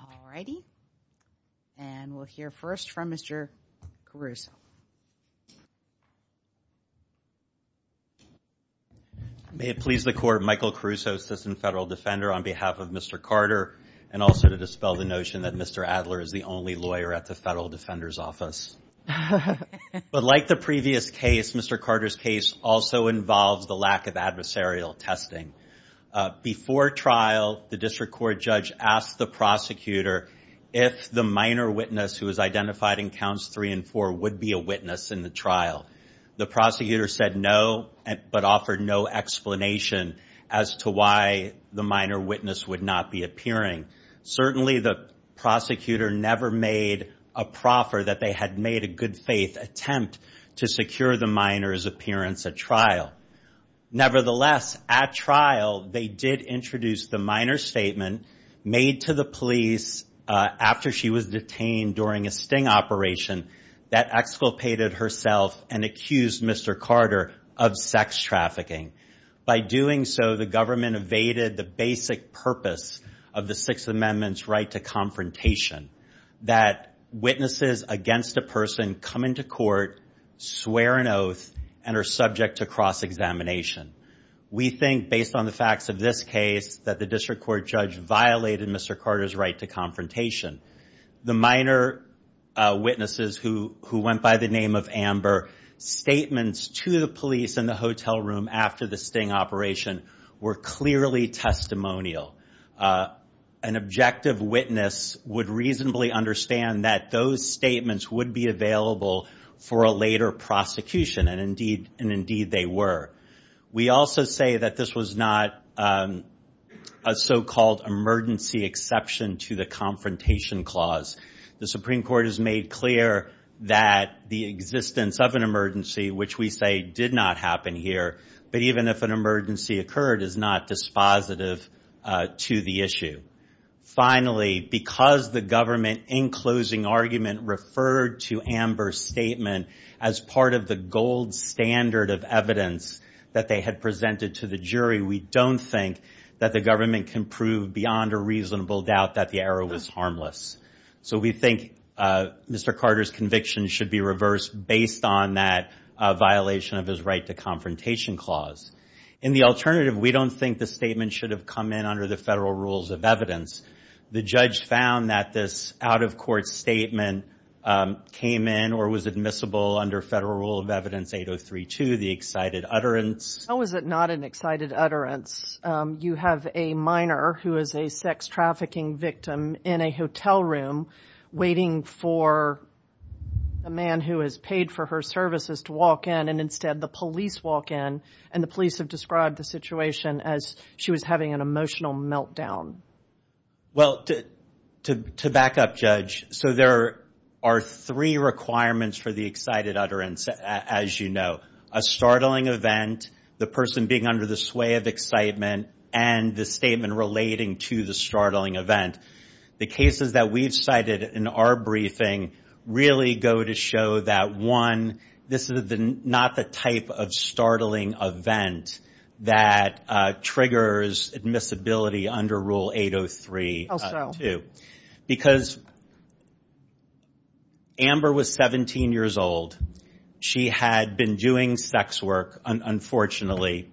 All righty and we'll hear first from Mr. Caruso. May it please the court Michael Caruso assistant federal defender on behalf of Mr. Carter and also to dispel the notion that Mr. Adler is the only lawyer at the Federal Defender's Office. But like the previous case Mr. Carter's case also involves the lack of if the minor witness who was identified in counts three and four would be a witness in the trial. The prosecutor said no but offered no explanation as to why the minor witness would not be appearing. Certainly the prosecutor never made a proffer that they had made a good-faith attempt to secure the minors appearance at trial. Nevertheless at trial they did introduce the minor statement made to the police after she was detained during a sting operation that exculpated herself and accused Mr. Carter of sex trafficking. By doing so the government evaded the basic purpose of the Sixth Amendment's right to confrontation. That witnesses against a person come into court swear an oath and are subject to cross-examination. We think based on the facts of this case that the district court judge violated Mr. Carter's right to confrontation. The minor witnesses who who went by the name of Amber statements to the police in the hotel room after the sting operation were clearly testimonial. An objective witness would reasonably understand that those statements would be available for a later prosecution and indeed they were. We also say that this was not a so-called emergency exception to the confrontation clause. The Supreme Court has made clear that the existence of an emergency which we say did not happen here but even if an emergency occurred is not dispositive to the issue. Finally because the government in closing argument referred to Amber's statement as part of the gold standard of evidence that they had presented to the jury we don't think that the government can prove beyond a reasonable doubt that the error was harmless. So we think Mr. Carter's conviction should be reversed based on that violation of his right to confrontation clause. In the alternative we don't think the statement should have come in under the federal rules of evidence. The judge found that this out-of-court statement came in or was admissible under federal rule of evidence 8032 the excited utterance. How was it not an excited utterance? You have a minor who is a sex trafficking victim in a hotel room waiting for a man who has paid for her services to walk in and instead the police walk in and the police have described the situation as she was having an emotional meltdown. Well to back up judge so there are three requirements for the excited utterance as you know a startling event the person being under the sway of excitement and the statement relating to the startling event. The cases that we've cited in our briefing really go to show that one this is not the type of startling event that triggers admissibility under rule 803 because Amber was 17 years old she had been doing sex work unfortunately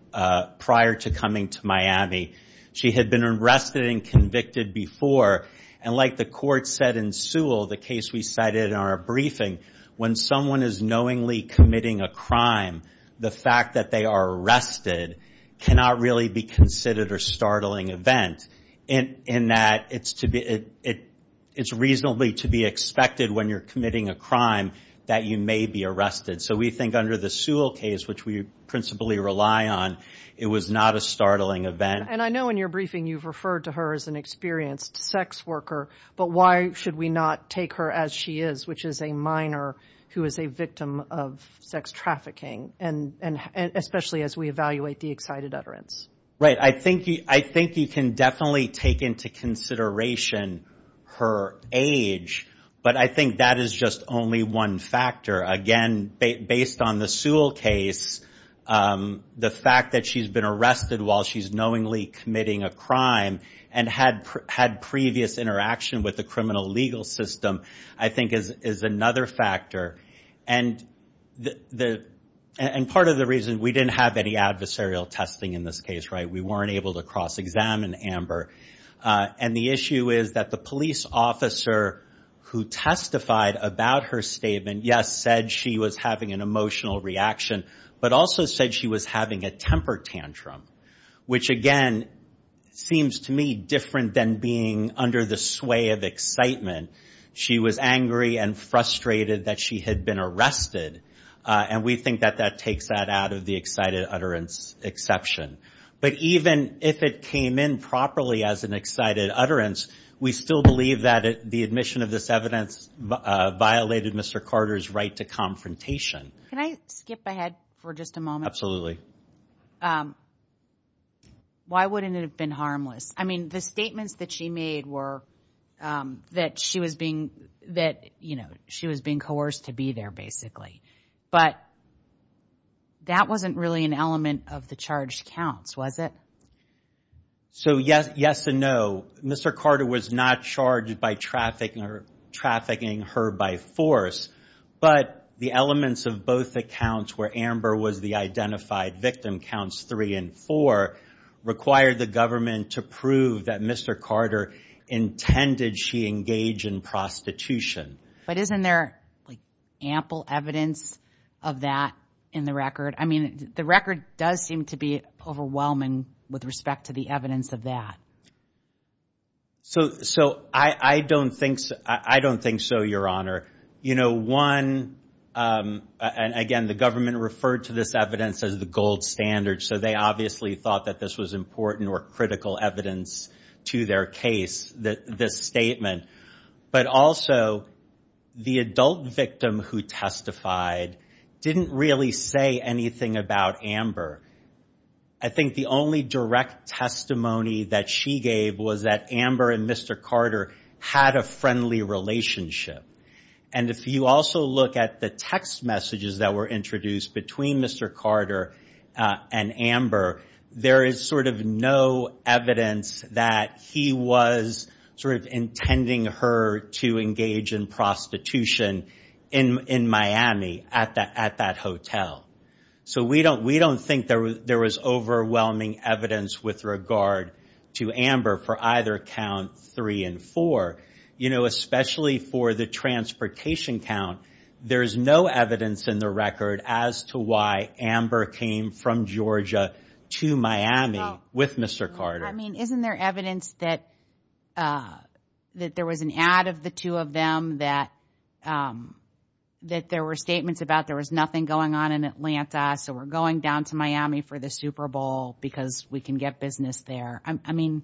prior to coming to Miami. She had been arrested and convicted before and like the court said in Sewell the case we cited in our briefing when someone is knowingly committing a crime the fact that they are arrested cannot really be considered a startling event in that it's reasonably to be expected when you're committing a crime that you may be arrested so we think under the Sewell case which we principally rely on it was not a startling event. And I know in your briefing you've referred to her as an experienced sex worker but why should we not take her as she is which is a minor who is a victim of sex trafficking and especially as we evaluate the excited utterance. Right I think you can definitely take into consideration her age but I think that is just only one factor again based on the Sewell case the fact that she's been arrested while she's knowingly committing a crime and had previous interaction with the criminal legal system I think is another factor and part of the reason we didn't have any adversarial testing in this case right we weren't able to cross examine Amber and the issue is that the police officer who testified about her statement yes said she was having an emotional reaction but also said she was having a temper tantrum which again seems to me different than being under the sway of excitement she was angry and frustrated that she had been arrested and we think that that takes that out of the excited utterance exception. But even if it came in properly as an excited utterance we still believe that the admission of this evidence violated Mr. Carter's right to confrontation. Can I skip ahead for just a moment? Absolutely. Why wouldn't it have been harmless? I mean the statements that she made were that she was being that you know she was being coerced to be there basically but that wasn't really an element of the charged counts was it? So yes yes and no Mr. Carter was not charged by trafficking her by force but the elements of both accounts where Amber was the identified victim counts three and four required the government to prove that Mr. Carter intended she engage in prostitution. But isn't there ample evidence of that in the record? I mean the record does seem to be overwhelming with respect to the evidence of that. So so I I don't think I don't think so your honor. You know one and again the government referred to this evidence as the gold standard so they obviously thought that this was important or critical evidence to their case that this statement but also the adult victim who testified didn't really say anything about Amber. I think the only direct testimony that she gave was that Amber and Mr. Carter had a friendly relationship and if you also look at the text messages that were introduced between Mr. Carter and Amber there is sort of no evidence that he was sort of intending her to engage in prostitution in in Miami at that at that hotel. So we don't we don't think there was there was overwhelming evidence with regard to Amber for either count three and four. You know especially for the transportation count there is no evidence in the record as to why Amber came from Georgia to Miami with Mr. Carter. I mean isn't there evidence that that there was an ad of the two of them that that there were statements about there was nothing going on in Atlanta so we're going down to Miami for the Super Bowl because we can get business there. I mean.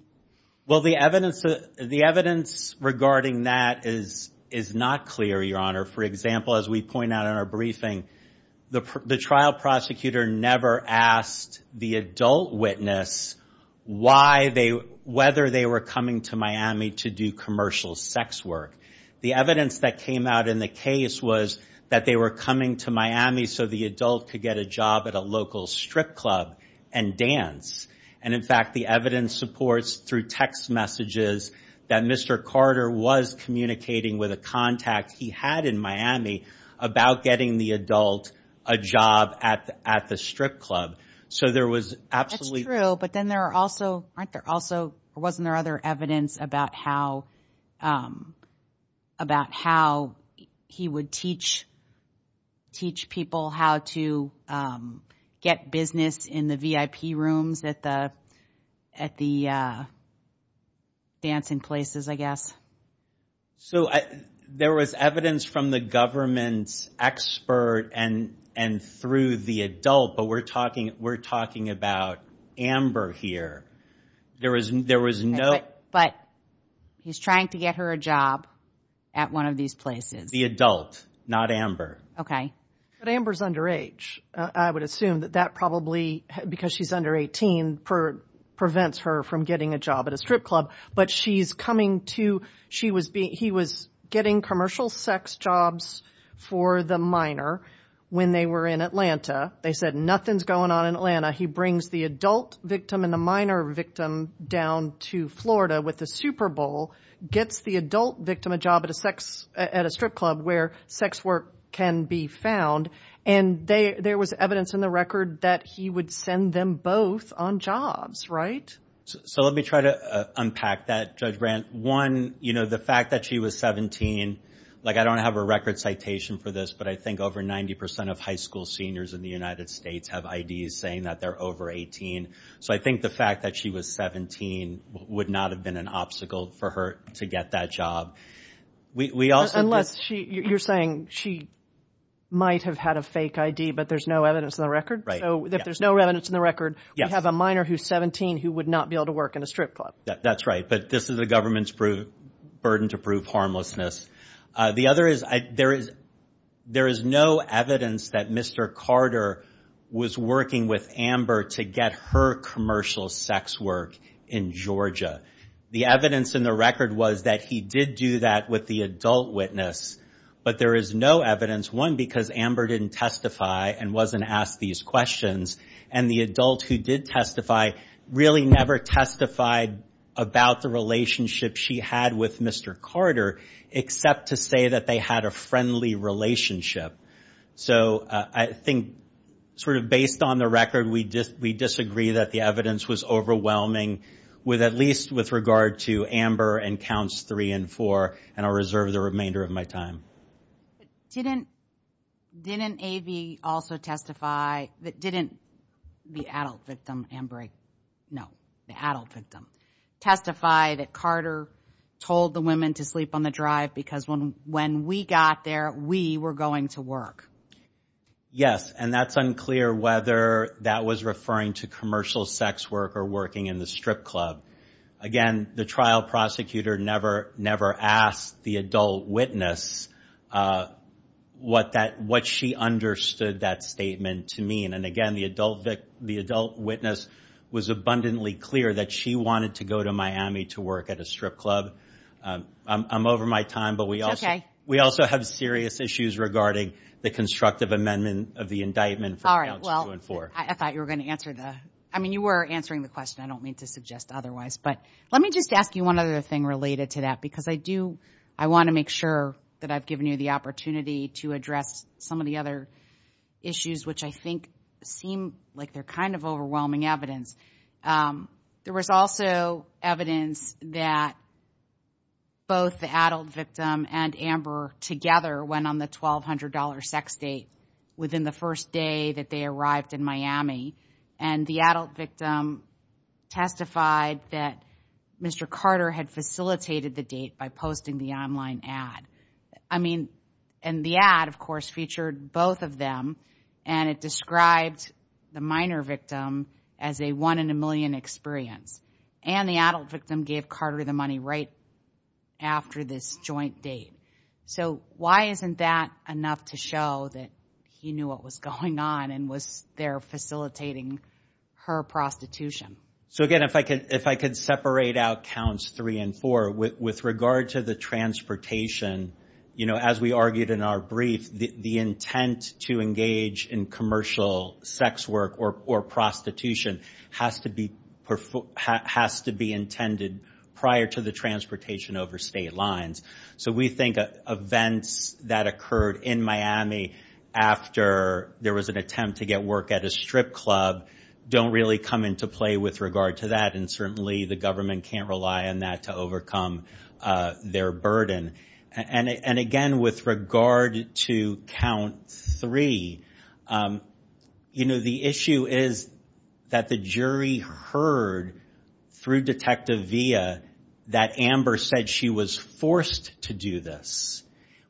Well the evidence the evidence regarding that is is not clear your honor. For example as we point out in our briefing the trial prosecutor never asked the adult witness why they whether they were coming to Miami to do commercial sex work. The evidence that came out in the case was that they were coming to Miami so the adult could get a job at a local strip club and dance and in fact the evidence supports through text messages that Mr. Carter was communicating with a contact he had in Miami about getting the adult a job at at the strip club. So there was absolutely true. But then there are also aren't there also wasn't there other evidence about how about how he would teach teach people how to get business in the VIP rooms at the at the dancing places I guess. So there was evidence from the government's expert and and through the adult but we're talking we're talking about Amber here. There was there was no. But he's trying to get her a job at one of these places. The adult not Amber. Okay. But Amber's underage I would assume that probably because she's under 18 per prevents her from getting a job at a strip club. But she's coming to she was being he was getting commercial sex jobs for the minor when they were in Atlanta. They said nothing's going on in Atlanta. He brings the adult victim and the minor victim down to Florida with the Super Bowl gets the adult victim a job at a sex at a strip club where sex work can be found. And there was evidence in the record that he would send them both on jobs. Right. So let me try to unpack that. Judge Brandt won. You know the fact that she was 17. Like I don't have a record citation for this but I think over 90 percent of high school seniors in the United States have I.D. saying that they're over 18. So I think the fact that she was 17 would not have been an for her to get that job. We also unless you're saying she might have had a fake I.D. but there's no evidence in the record. So if there's no evidence in the record you have a minor who's 17 who would not be able to work in a strip club. That's right. But this is the government's burden to prove harmlessness. The other is there is there is no evidence that Mr. Carter was working with Amber to get her commercial sex work in Georgia. The evidence in the record was that he did do that with the adult witness. But there is no evidence one because Amber didn't testify and wasn't asked these questions. And the adult who did testify really never testified about the relationship she had with Mr. Carter except to say that they had a friendly relationship. So I think sort of based on the record we just we disagree that the evidence was overwhelming with at least with regard to Amber and counts three and four. And I'll reserve the remainder of my time. Didn't didn't A.V. also testify that didn't the adult victim Amber. No the adult victim testified that Carter told the women to sleep on the drive because when when we got there we were going to work. Yes. And that's unclear whether that was referring to commercial sex work or working in the strip club. Again the trial prosecutor never never asked the adult witness what that what she understood that statement to mean. And again the adult the adult witness was abundantly clear that she wanted to go to Miami to work at a strip club. I'm have serious issues regarding the constructive amendment of the indictment all right. Well I thought you were going to answer that. I mean you were answering the question I don't mean to suggest otherwise. But let me just ask you one other thing related to that because I do I want to make sure that I've given you the opportunity to address some of the other issues which I think seem like they're kind of overwhelming evidence. There was also evidence that both the adult victim and Amber together went on the twelve hundred dollar sex date within the first day that they arrived in Miami and the adult victim testified that Mr. Carter had facilitated the date by posting the online ad. I mean and the ad of course featured both of them and it described the minor victim as a one in a million experience and the adult victim gave Carter the money right after this joint date. So why isn't that enough to show that he knew what was going on and was there facilitating her prostitution? So again if I could if I could separate out counts three and four with regard to the transportation you know as we argued in our brief the intent to engage in commercial sex work or prostitution has to be has to be intended prior to the transportation over state lines. So we think events that occurred in Miami after there was an attempt to get work at a strip club don't really come into play with regard to that and certainly the government can't rely on that to overcome their burden. And again with regard to count three you know the issue is that the jury heard through Detective Villa that Amber said she was forced to do this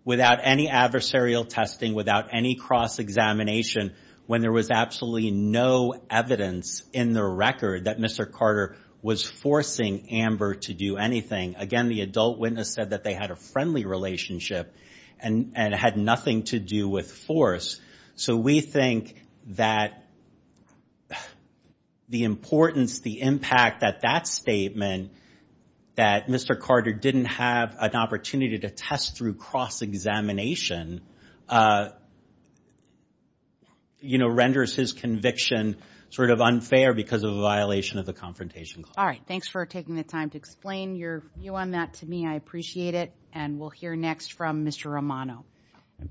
without any adversarial testing without any cross-examination when there was absolutely no evidence in the record that Mr. Carter was forcing Amber to do anything. Again the adult witness said that they had a friendly relationship and and had nothing to do with force. So we think that the importance the impact at that statement that Mr. Carter didn't have an opportunity to test through cross-examination you know renders his conviction sort of unfair because of violation of the Confrontation Clause. Alright thanks for taking the time to explain your view on that to me I appreciate it and we'll hear next from Mr. Romano.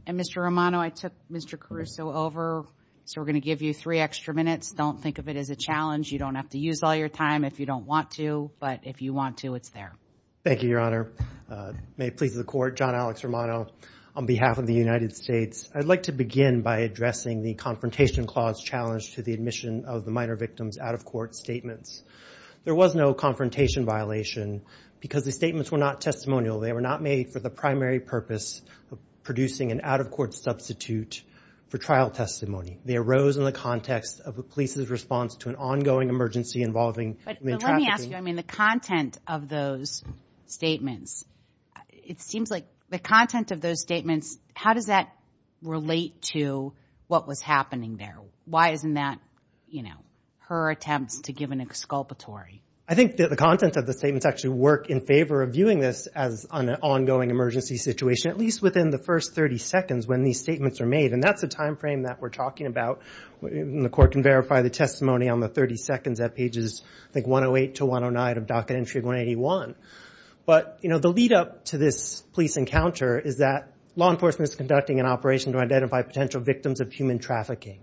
And Mr. Romano I took Mr. Caruso over so we're gonna give you three extra minutes don't think of it as a challenge you don't have to use all your time if you don't want to but if you want to it's there. Thank you Your Honor. May it please the court John Alex Romano on behalf of the United States I'd like to begin by addressing the Confrontation Clause challenge to the admission of the minor victims out-of-court statements. There was no confrontation violation because the statements were not testimonial they were not made for the primary purpose of producing an out-of-court substitute for trial testimony. They arose in the context of the police's response to an ongoing emergency involving... Let me ask you I mean the content of those statements it seems like the content of those statements how does that relate to what was happening there? Why isn't that you know her attempts to give an exculpatory? I think that the content of the statements actually work in favor of viewing this as an ongoing emergency situation at least within the first 30 seconds when these statements are made and that's the time frame that we're talking about. The court can verify the testimony on the 30 seconds at pages like 108 to 109 of docket entry 181. But you know the lead-up to this police encounter is that law enforcement is conducting an operation to identify potential victims of human trafficking.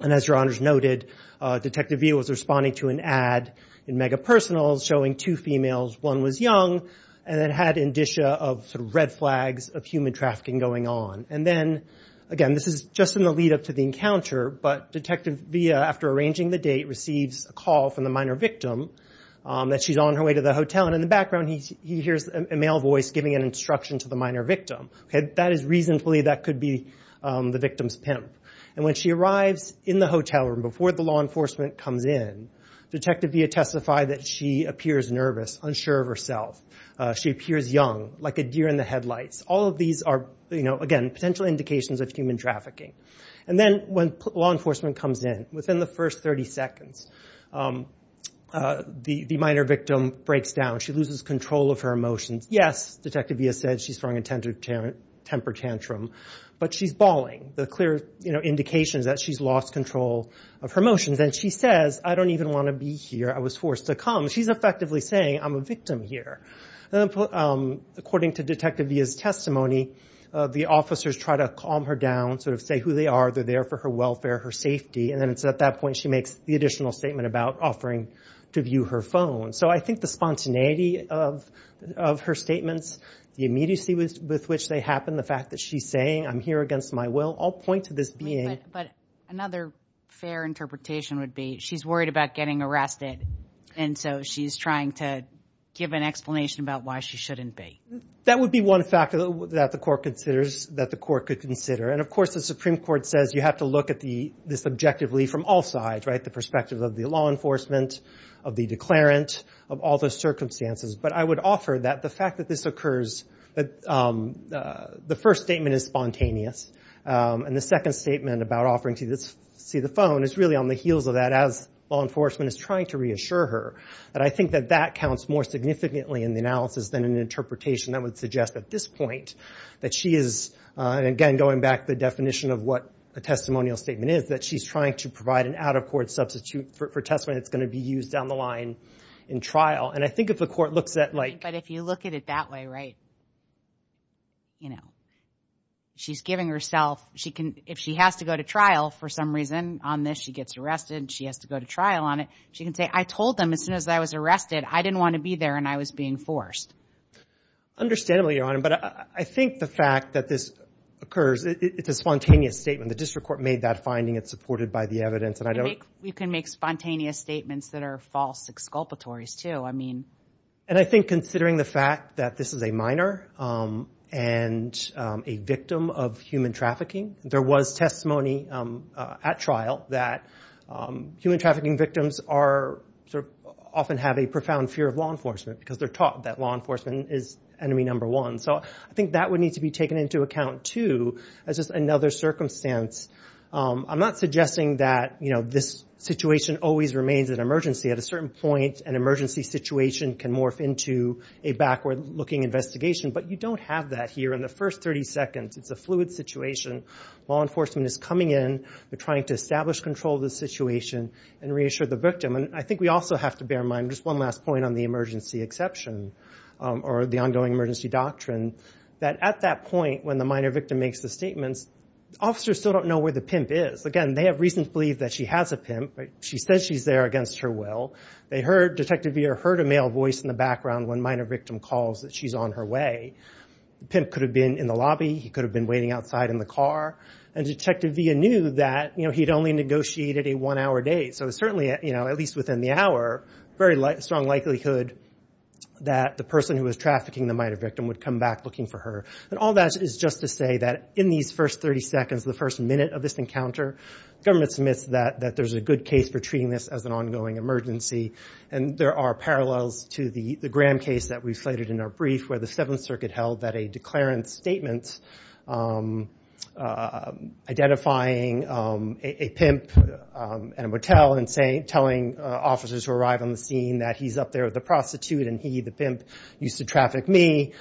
And as your honors noted Detective Villa was responding to an ad in Mega Personals showing two females one was young and then had indicia of red flags of human trafficking going on. And then again this is just in the lead-up to the encounter but Detective Villa after arranging the date receives a call from the minor victim that she's on her way to the hotel and in the background he hears a male voice giving an instruction to the minor victim. That is reasonably that could be the victim's pimp. And when she arrives in the hotel room before the law enforcement comes in Detective Villa testifies that she appears nervous, unsure of herself. She appears young like a deer in the headlights. All of these are you know again potential indications of human trafficking. And then when law enforcement comes in within the first 30 seconds the minor victim breaks down. She loses control of her emotions. Yes, Detective Villa said she strung a temper tantrum. But she's bawling. The clear indications that she's lost control of her emotions. And she says I don't even want to be here. I was forced to come. She's effectively saying I'm a victim here. According to Detective Villa's testimony the officers try to calm her down sort of say who they are. They're there for her welfare, her safety. And then it's at that point she makes the additional statement about offering to view her phone. So I think the spontaneity of her statements, the immediacy with which they happen, the fact that she's saying I'm here against my will. I'll point to this being. But another fair interpretation would be she's worried about getting arrested. And so she's trying to give an explanation about why she shouldn't be. That would be one factor that the court considers that the court could consider. And of course the Supreme Court says you have to look at the this objectively from all sides right. The perspective of the law enforcement, of the declarant, of all the circumstances. But I would offer that the fact that this occurs. The first statement is spontaneous. And the second statement about offering to see the phone is really on the heels of that as law enforcement is trying to reassure her. And I think that that counts more significantly in the analysis than an interpretation that would suggest at this point that she is. And again going back the definition of what a testimonial statement is. That she's trying to provide an out of court substitute for testimony that's going to be used down the line in trial. And I think if the court looks at like. But if you look at it that way right. You know she's giving herself. She can, if she has to go to trial for some reason on this. She gets arrested. She has to go to trial on it. She can say I told them as soon as I was arrested. I didn't want to be there and I was being forced. Understandably Your Honor. But I think the fact that this occurs. It's a spontaneous statement. The can make spontaneous statements that are false exculpatories too. I mean. And I think considering the fact that this is a minor. And a victim of human trafficking. There was testimony at trial that human trafficking victims are often have a profound fear of law enforcement. Because they're taught that law enforcement is enemy number one. So I think that would need to be taken into account too. As just another circumstance. I'm not suggesting that you know this situation always remains an emergency. At a certain point an emergency situation can morph into a backward looking investigation. But you don't have that here in the first 30 seconds. It's a fluid situation. Law enforcement is coming in. They're trying to establish control of the situation. And reassure the victim. And I think we also have to bear in mind. Just one last point on the emergency exception. Or the ongoing emergency doctrine. That at that point when the minor victim makes the statements. Officers still don't know where the pimp is. Again they have reason to believe that she has a pimp. She says she's there against her will. They heard. Detective Veer heard a male voice in the background. When minor victim calls that she's on her way. Pimp could have been in the lobby. He could have been waiting outside in the car. And Detective Veer knew that you know he'd only negotiated a one hour date. So certainly you know at least within the hour. Very strong likelihood that the person who was trafficking the minor victim would come back looking for her. And all that is just to say that in these first 30 seconds. The first minute of this encounter. Government submits that there's a good case for treating this as an ongoing emergency. And there are parallels to the Graham case that we've cited in our brief. Where the Seventh Circuit held that a declarant statement. Identifying a pimp at a motel. And telling officers who arrive on the scene that he's up there with a prostitute. And he the pimp used to traffic me.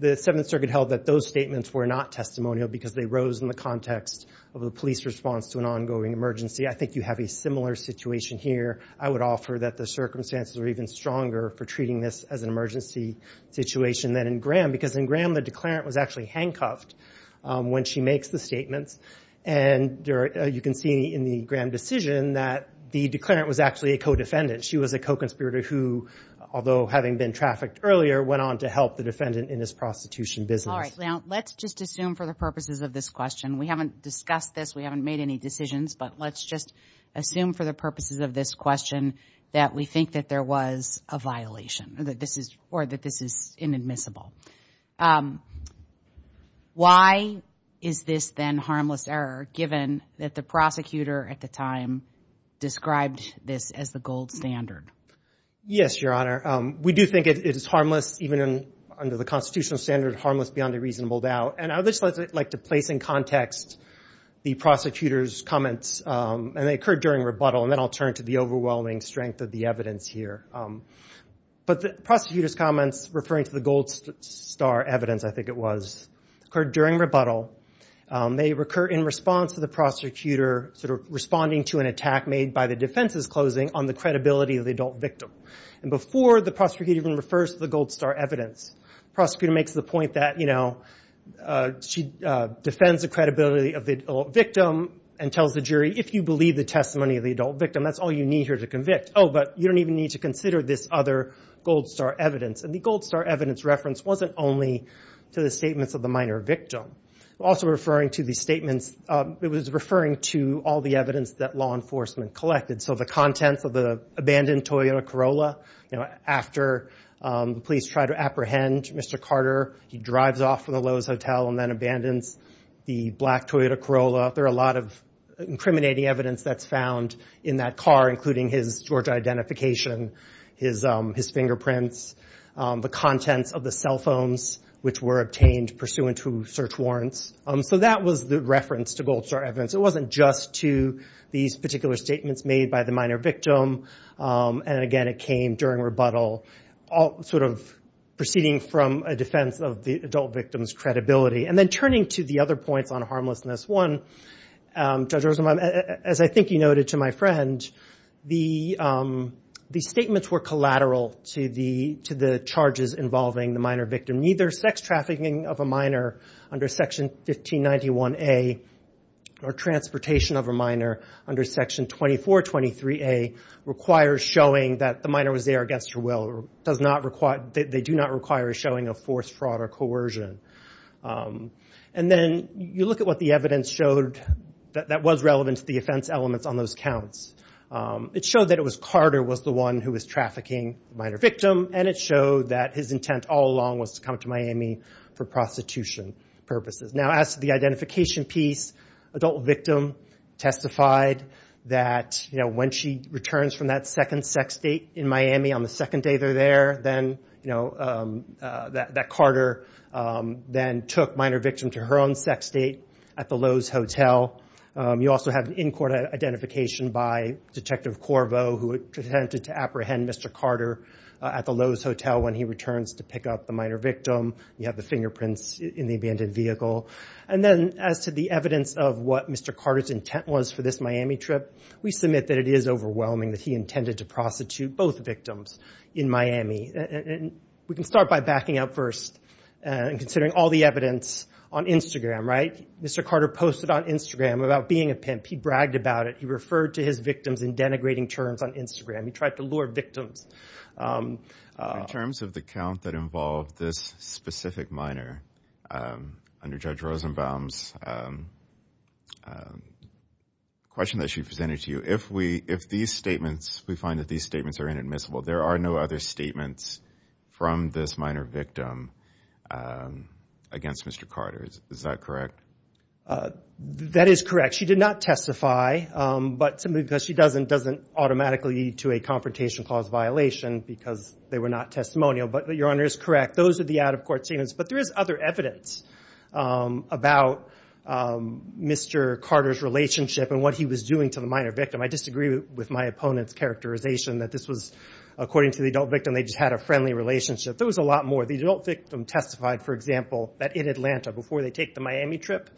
The Seventh Circuit held that those statements were not testimonial. Because they rose in the context of a police response to an ongoing emergency. I think you have a similar situation here. I would offer that the circumstances are even stronger for treating this as an emergency situation than in Graham. Because in Graham the declarant was actually handcuffed. When she makes the statements. And you can see in the Graham decision that the declarant was actually a co-defendant. She was a co-conspirator who. Although having been trafficked earlier. Went on to help the defendant in his prostitution business. Alright. Now let's just assume for the purposes of this question. We haven't discussed this. We haven't made any decisions. But let's just assume for the purposes of this question. That we think that there was a violation. Or that this is inadmissible. Why is this then harmless error given that the prosecutor at the time described this as the gold star standard? Yes your honor. We do think it is harmless. Even under the constitutional standard. Harmless beyond a reasonable doubt. And I would just like to place in context. The prosecutor's comments. And they occurred during rebuttal. And then I'll turn to the overwhelming strength of the evidence here. But the prosecutor's comments. Referring to the gold star evidence. I think it was. Occurred during rebuttal. They recur in response to the prosecutor. Sort of responding to an attack made by the defense's closing. On the credibility of the adult victim. And before the prosecutor even refers to the gold star evidence. Prosecutor makes the point that. She defends the credibility of the victim. And tells the jury. If you believe the testimony of the adult victim. That's all you need here to convict. Oh but you don't even need to consider this other gold star evidence. And the gold star evidence reference wasn't only. To the statements of the minor victim. Also referring to the statements. It was referring to all the evidence that law enforcement collected. So the contents of the abandoned Toyota Corolla. You know. After the police try to apprehend Mr. Carter. He drives off from the Lowe's hotel. And then abandons the black Toyota Corolla. There are a lot of incriminating evidence that's found. In that car. Including his Georgia identification. His fingerprints. The contents of the cell phones. Which were obtained pursuant to search warrants. So that was the reference to gold star evidence. It wasn't just to. These particular statements made by the minor victim. And again it came during rebuttal. All sort of. Proceeding from a defense of the adult victim's credibility. And then turning to the other points on harmlessness. One. Judge Rosenbaum. As I think you noted to my friend. The. The statements were collateral to the to the charges involving the minor victim. Neither sex trafficking of a minor. Under section 1591A. Or transportation of a minor. Under section 2423A. Requires showing that the minor was there against her will. Does not require. They do not require showing a forced fraud or coercion. And then you look at what the evidence showed. That that was relevant to the offense elements on those counts. It showed that it was Carter was the one who was trafficking minor victim. And it showed that his intent all along was to come to Miami. For prostitution. Purposes now as the identification piece. Adult victim. Testified. That you know when she returns from that second sex state in Miami on the second day they're there then. You know. That that Carter. Then took minor victim to her own sex state. At the Lowe's hotel. You also have in court identification by detective Corvo who attempted to apprehend Mr. Carter. At the Lowe's hotel when he returns to pick up the minor victim. You have the fingerprints in the abandoned vehicle. And then as to the evidence of what Mr. Carter's intent was for this Miami trip. We submit that it is overwhelming that he intended to prostitute both victims. In Miami. And we can start by backing up first. And considering all the evidence. On Instagram right. Mr. Carter posted on Instagram about being a pimp. He bragged about it. He referred to his victims in denigrating terms on Instagram. He tried to lure victims. In terms of the count that involved this specific minor. Under Judge Rosenbaum's. Question that she presented to you if we if these statements we find that these statements are inadmissible there are no other statements. From this minor victim. Against Mr. Carter's is that correct. That is correct she did not testify. But because she doesn't doesn't automatically lead to a confrontation clause violation. Because they were not testimonial. But your honor is correct. Those are the out of court statements. But there is other evidence. About. Mr. Carter's relationship and what he was doing to the minor victim. I disagree with my opponent's characterization that this was. According to the adult victim they just had a friendly relationship. There was a lot more. The adult victim testified for example. That in Atlanta before they take the Miami trip.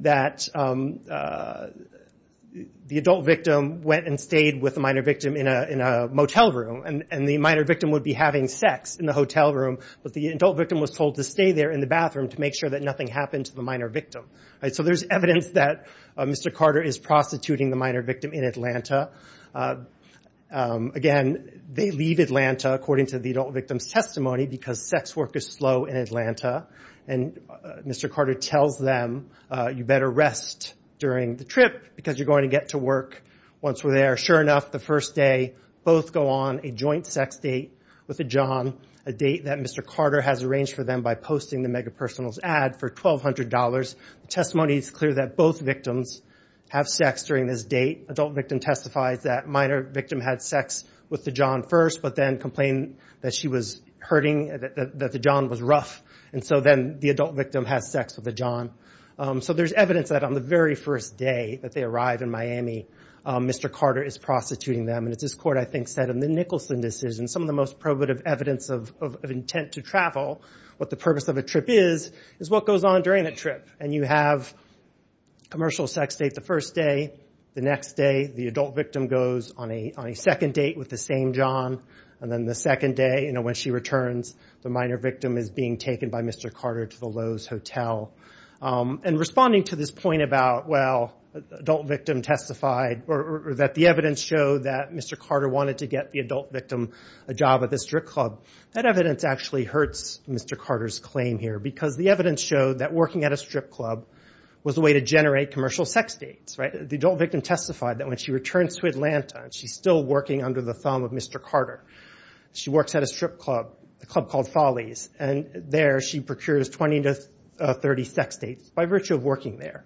That. The adult victim went and stayed with a minor victim in a in a motel room and and the minor victim would be having sex in the hotel room. But the adult victim was told to stay there in the bathroom to make sure that nothing happened to the minor victim. So there's evidence that. Mr. Carter is prostituting the minor victim in Atlanta. Again they leave Atlanta according to the victim's testimony because sex work is slow in Atlanta. And Mr. Carter tells them you better rest. During the trip because you're going to get to work. Once we're there sure enough the first day. Both go on a joint sex date. With the John. A date that Mr. Carter has arranged for them by posting the mega personals add for twelve hundred dollars. Testimony is clear that both victims. Have sex during this date adult victim testifies that minor victim had sex. With the John first but then complain. That she was hurting at that that the John was rough. And so then the adult victim has sex with the John. So there's evidence that on the very first day that they arrived in Miami. Mr. Carter is prostituting them and it's this court I think said in the Nicholson decision some of the most probative evidence of of of intent to travel. But the purpose of the trip is is what goes on during the trip and you have. Commercial sex date the first day. The next day the adult victim goes on a on a second date with the same John. And then the second day you know when she returns the minor victim is being taken by Mr. Carter to the hotel. And responding to this point about well adult victim testified or that the evidence show that Mr. Carter wanted to get the adult victim. A job at the strip club that evidence actually hurts Mr. Carter's claim here because the evidence showed that working at a strip club. Was a way to generate commercial sex dates right they don't make and testified that when she returns to Atlanta she's still working under the thumb of Mr. Carter. She works at a strip club the club called follies and there she procures twenty to thirty sex dates by virtue of working there.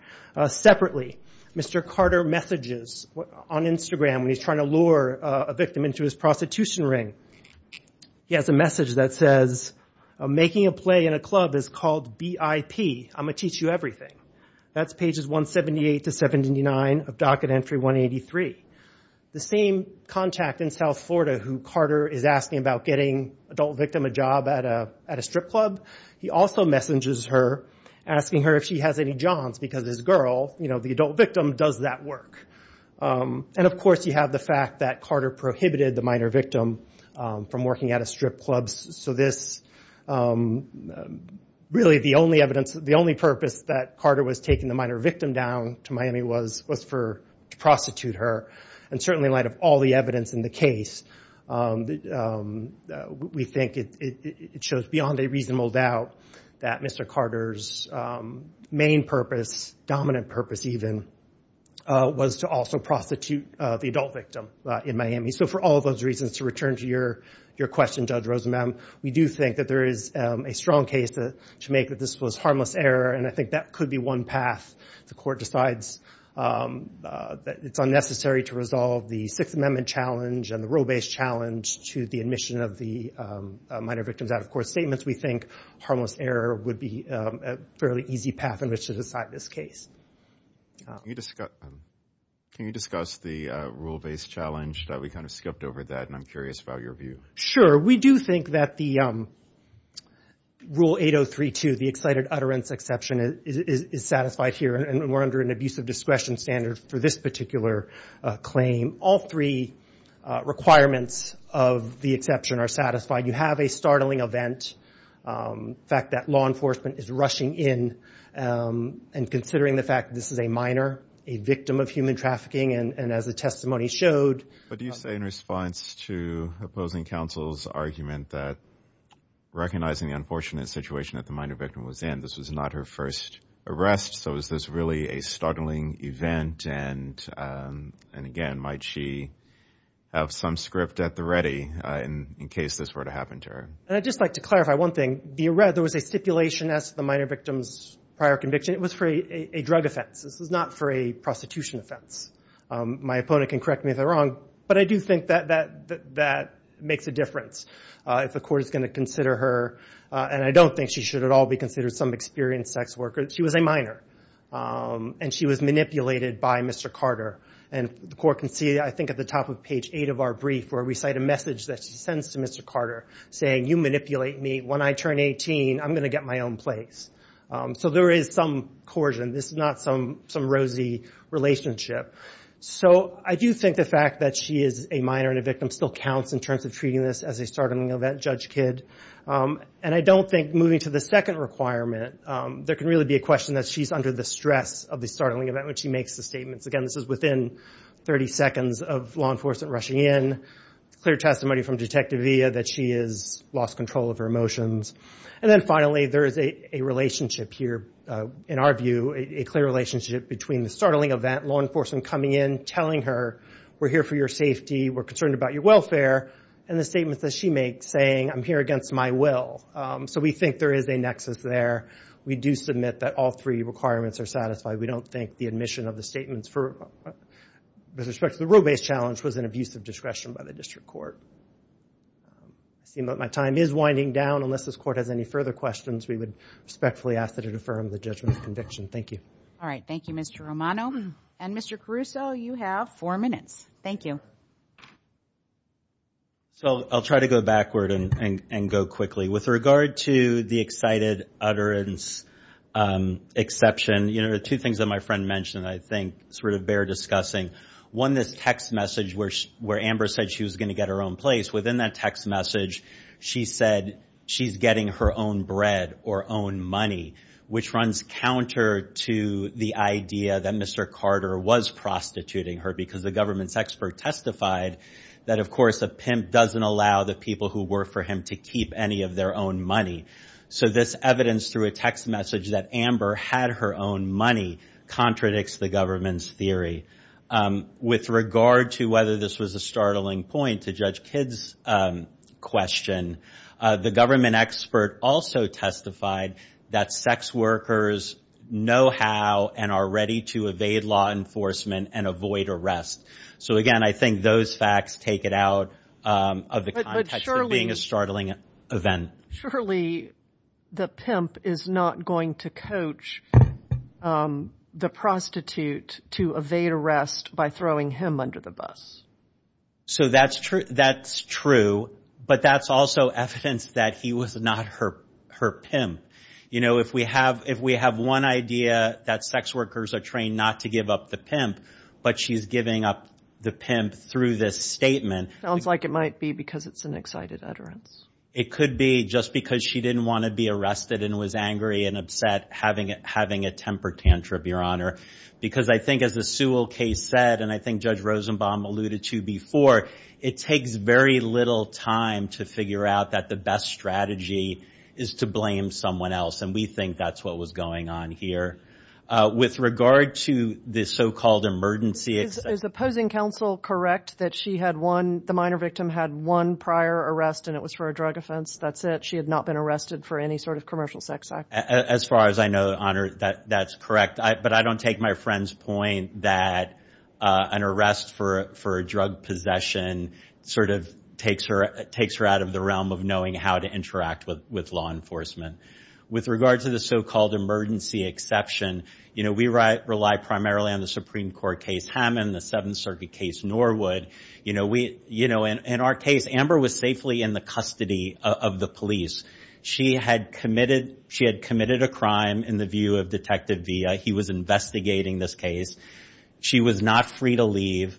Separately Mr. Carter messages what on Instagram he's trying to lure a victim into his prostitution ring. He has a message that says. Making a play in a club is called B.I.P. I'm a teach you everything. That's pages one seventy eight to seventy nine docket entry one eighty three. The same contact in South Florida who Carter is asking about getting adult victim a job at a strip club. He also messages her asking her if she has any jobs because his girl you know the adult victim does that work. And of course you have the fact that Carter prohibited the minor victim. From working at a strip clubs so this. Really the only evidence of the only purpose that Carter was taking the minor victim down to Miami was was for prostitute her. And certainly light of all the evidence in the case. That we think it it it shows beyond a reasonable doubt. That Mr. Carter's. Main purpose dominant purpose even. Was to also prostitute the adult victim in Miami so for all those reasons to return to your your question judge Rosamond we do think that there is a strong case that to make that this was harmless error and I think that could be one path the court decides. That it's unnecessary to resolve the sixth amendment challenge and the role based challenge to the admission of the minor victims of course statements we think harmless error would be. Fairly easy path in which to decide this case. You just got. Can you discuss the rule based challenge that we kind of skipped over that I'm curious about your view sure we do think that the. Rule 803 to the excited utterance exception it is it is satisfied here and we're under an abuse of discretion standard for this particular. Claim all three. Requirements of the exception are satisfied you have a startling event. Fact that law enforcement is rushing in. And considering the fact this is a minor a victim of human trafficking and and as the testimony showed. What do you say in response to opposing counsel's argument that. Recognizing unfortunate situation at the minor victim was and this was not her first arrest so is this really a startling event and and again might she. Have some script at the ready and in case this were to happen to her I'd just like to clarify one thing you read there was a stipulation as the minor victims prior conviction it was free a drug offense this is not for a prostitution offense. My opponent can correct me if I'm wrong but I do think that that that makes a difference. If the court is going to consider her and I don't think she should all be considered some experience sex workers she was a minor. And she was manipulated by Mr Carter and the court can see I think at the top of page eight of our brief where we cite a message that sends to Mr Carter saying you manipulate me when I turn eighteen I'm gonna get my own place. So there is some coercion this is not some some rosy relationship. So I do think the fact that she is a minor victim still counts in terms of treating this as a startling event judge kid. And I don't think moving to the second requirement. There can really be a question that she's under the stress of the startling about what she makes the statements again this is within. Thirty seconds of law enforcement rushing in. Clear testimony from detective via that she is lost control of promotions. And then finally there is a relationship here. In our view a clear relationship between the startling event law enforcement coming in telling her. We're here for your safety we're concerned about your welfare. And the statements that she makes saying I'm here against my will. So we think there is a nexus there. We do submit that all three requirements are satisfied we don't think the admission of the statements for. Respect the roadways challenge was an abuse of discretion by the district court. Seem that my time is winding down unless this court has any further questions we would. Respectfully ask that it affirmed the judgment conviction thank you. All right thank you Mr Romano. And Mr Caruso you have four minutes thank you. So I'll try to go backward and and and go quickly with regard to the excited utterance. Exception you know two things that my friend mentioned I think sort of bear discussing. One this text message which where amber said she was going to get her own place within that text message. She said she's getting her own bread or own money. Which runs counter to the idea that Mr Carter was prostituting her because the government's expert testified. That of course a pimp doesn't allow the people who work for him to keep any of their own money. So this evidence through a text message that amber had her own money. Contradicts the government's theory. With regard to whether this was a startling point to judge kids. Question. The government expert also testified. That sex workers. Know how and are ready to evade law enforcement and avoid arrest. So of the. Being a startling event. Surely. The pimp is not going to coach. The prostitute to evade arrest by throwing him under the bus. So that's true that's true. But that's also evidence that he was not hurt her pimp. You know if we have if we have one idea that sex workers are trained not to give up the pimp. But she's giving up. The pimp through this statement sounds like it might be because it's an excited utterance. It could be just because she didn't want to be arrested and was angry and upset having it having a temper tantrum your honor. Because I think as the Sewell case said and I think judge Rosenbaum alluded to before. It takes very little time to figure out that the best strategy. Is to blame someone else and we think that's what was going on here. With regard to this so-called emergency exit is opposing counsel correct that she had one the minor victim had one prior arrest and it was for a drug offense. That's it she had not been arrested for any sort of commercial sex. As far as I know honor that that's correct. But I don't take my friend's point that. An arrest for for a drug possession. Sort of takes her it takes her out of the realm of knowing how to interact with with law enforcement. With regard to the so-called emergency exception. You know we write rely primarily on the Supreme Court case Hammond the seventh circuit case nor would. You know we you know and in our case amber was safely in the custody of the police. She had committed she had committed a crime in the view of detective via he was investigating this case. She was not free to leave.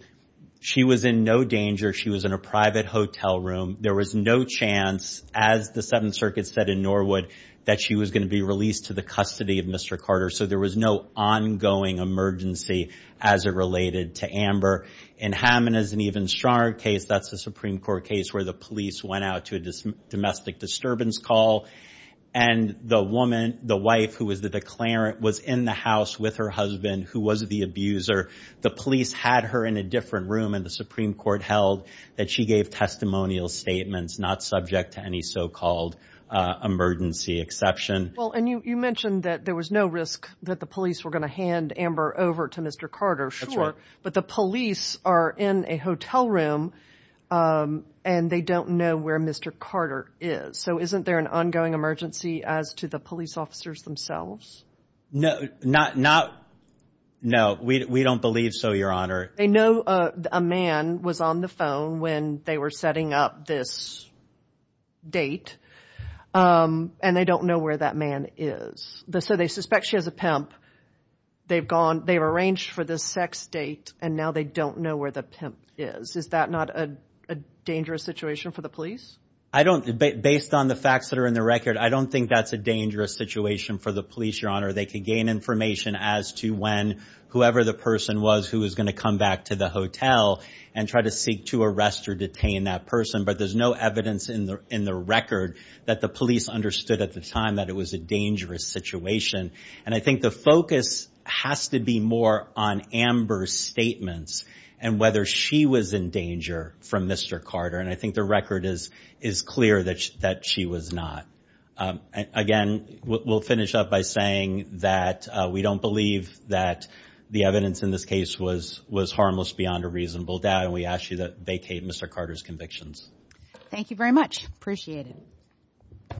She was in no danger she was in a private hotel room there was no chance as the seventh circuit said in Norwood. That she was going to be released to the custody of Mr. Carter so there was no ongoing emergency. As it related to amber and Hammond is an even stronger case that's the Supreme Court case where the police went out to dismiss domestic disturbance call. And the woman the wife who was the declarant was in the house with her husband who was the abuser. The police had her in a different room in the Supreme Court held that she gave testimonial statements not subject to any so-called. Emergency exception well and you mentioned that there was no risk that the police were going to hand amber over to Mr. Carter short but the police are in a hotel room. And they don't know where Mr. Carter is so isn't there an ongoing emergency as to the police officers themselves. No not not. Now we don't we don't believe so your honor I know. A man was on the phone when they were setting up this. Date. And they don't know where that man is the so they suspect she has a pimp. They've gone they've arranged for the sex date and now they don't know where the pimp is is that not and a dangerous situation for the police. I don't debate based on the facts that are in the record I don't think that's a dangerous situation for the police your honor they can gain information as to when. Whoever the person was who is going to come back to the hotel. And try to seek to arrest or detain that person but there's no evidence in the in the record. That the police understood at the time that it was a dangerous situation. And I think the focus has to be more on amber's statements. And whether she was in danger from Mr. Carter and I think the record is is clear that she that she was not. Again what will finish up by saying that we don't believe that. The evidence in this case was was harmless beyond a reasonable doubt we actually that they came Mr. Carter's convictions. Thank you very much appreciate it.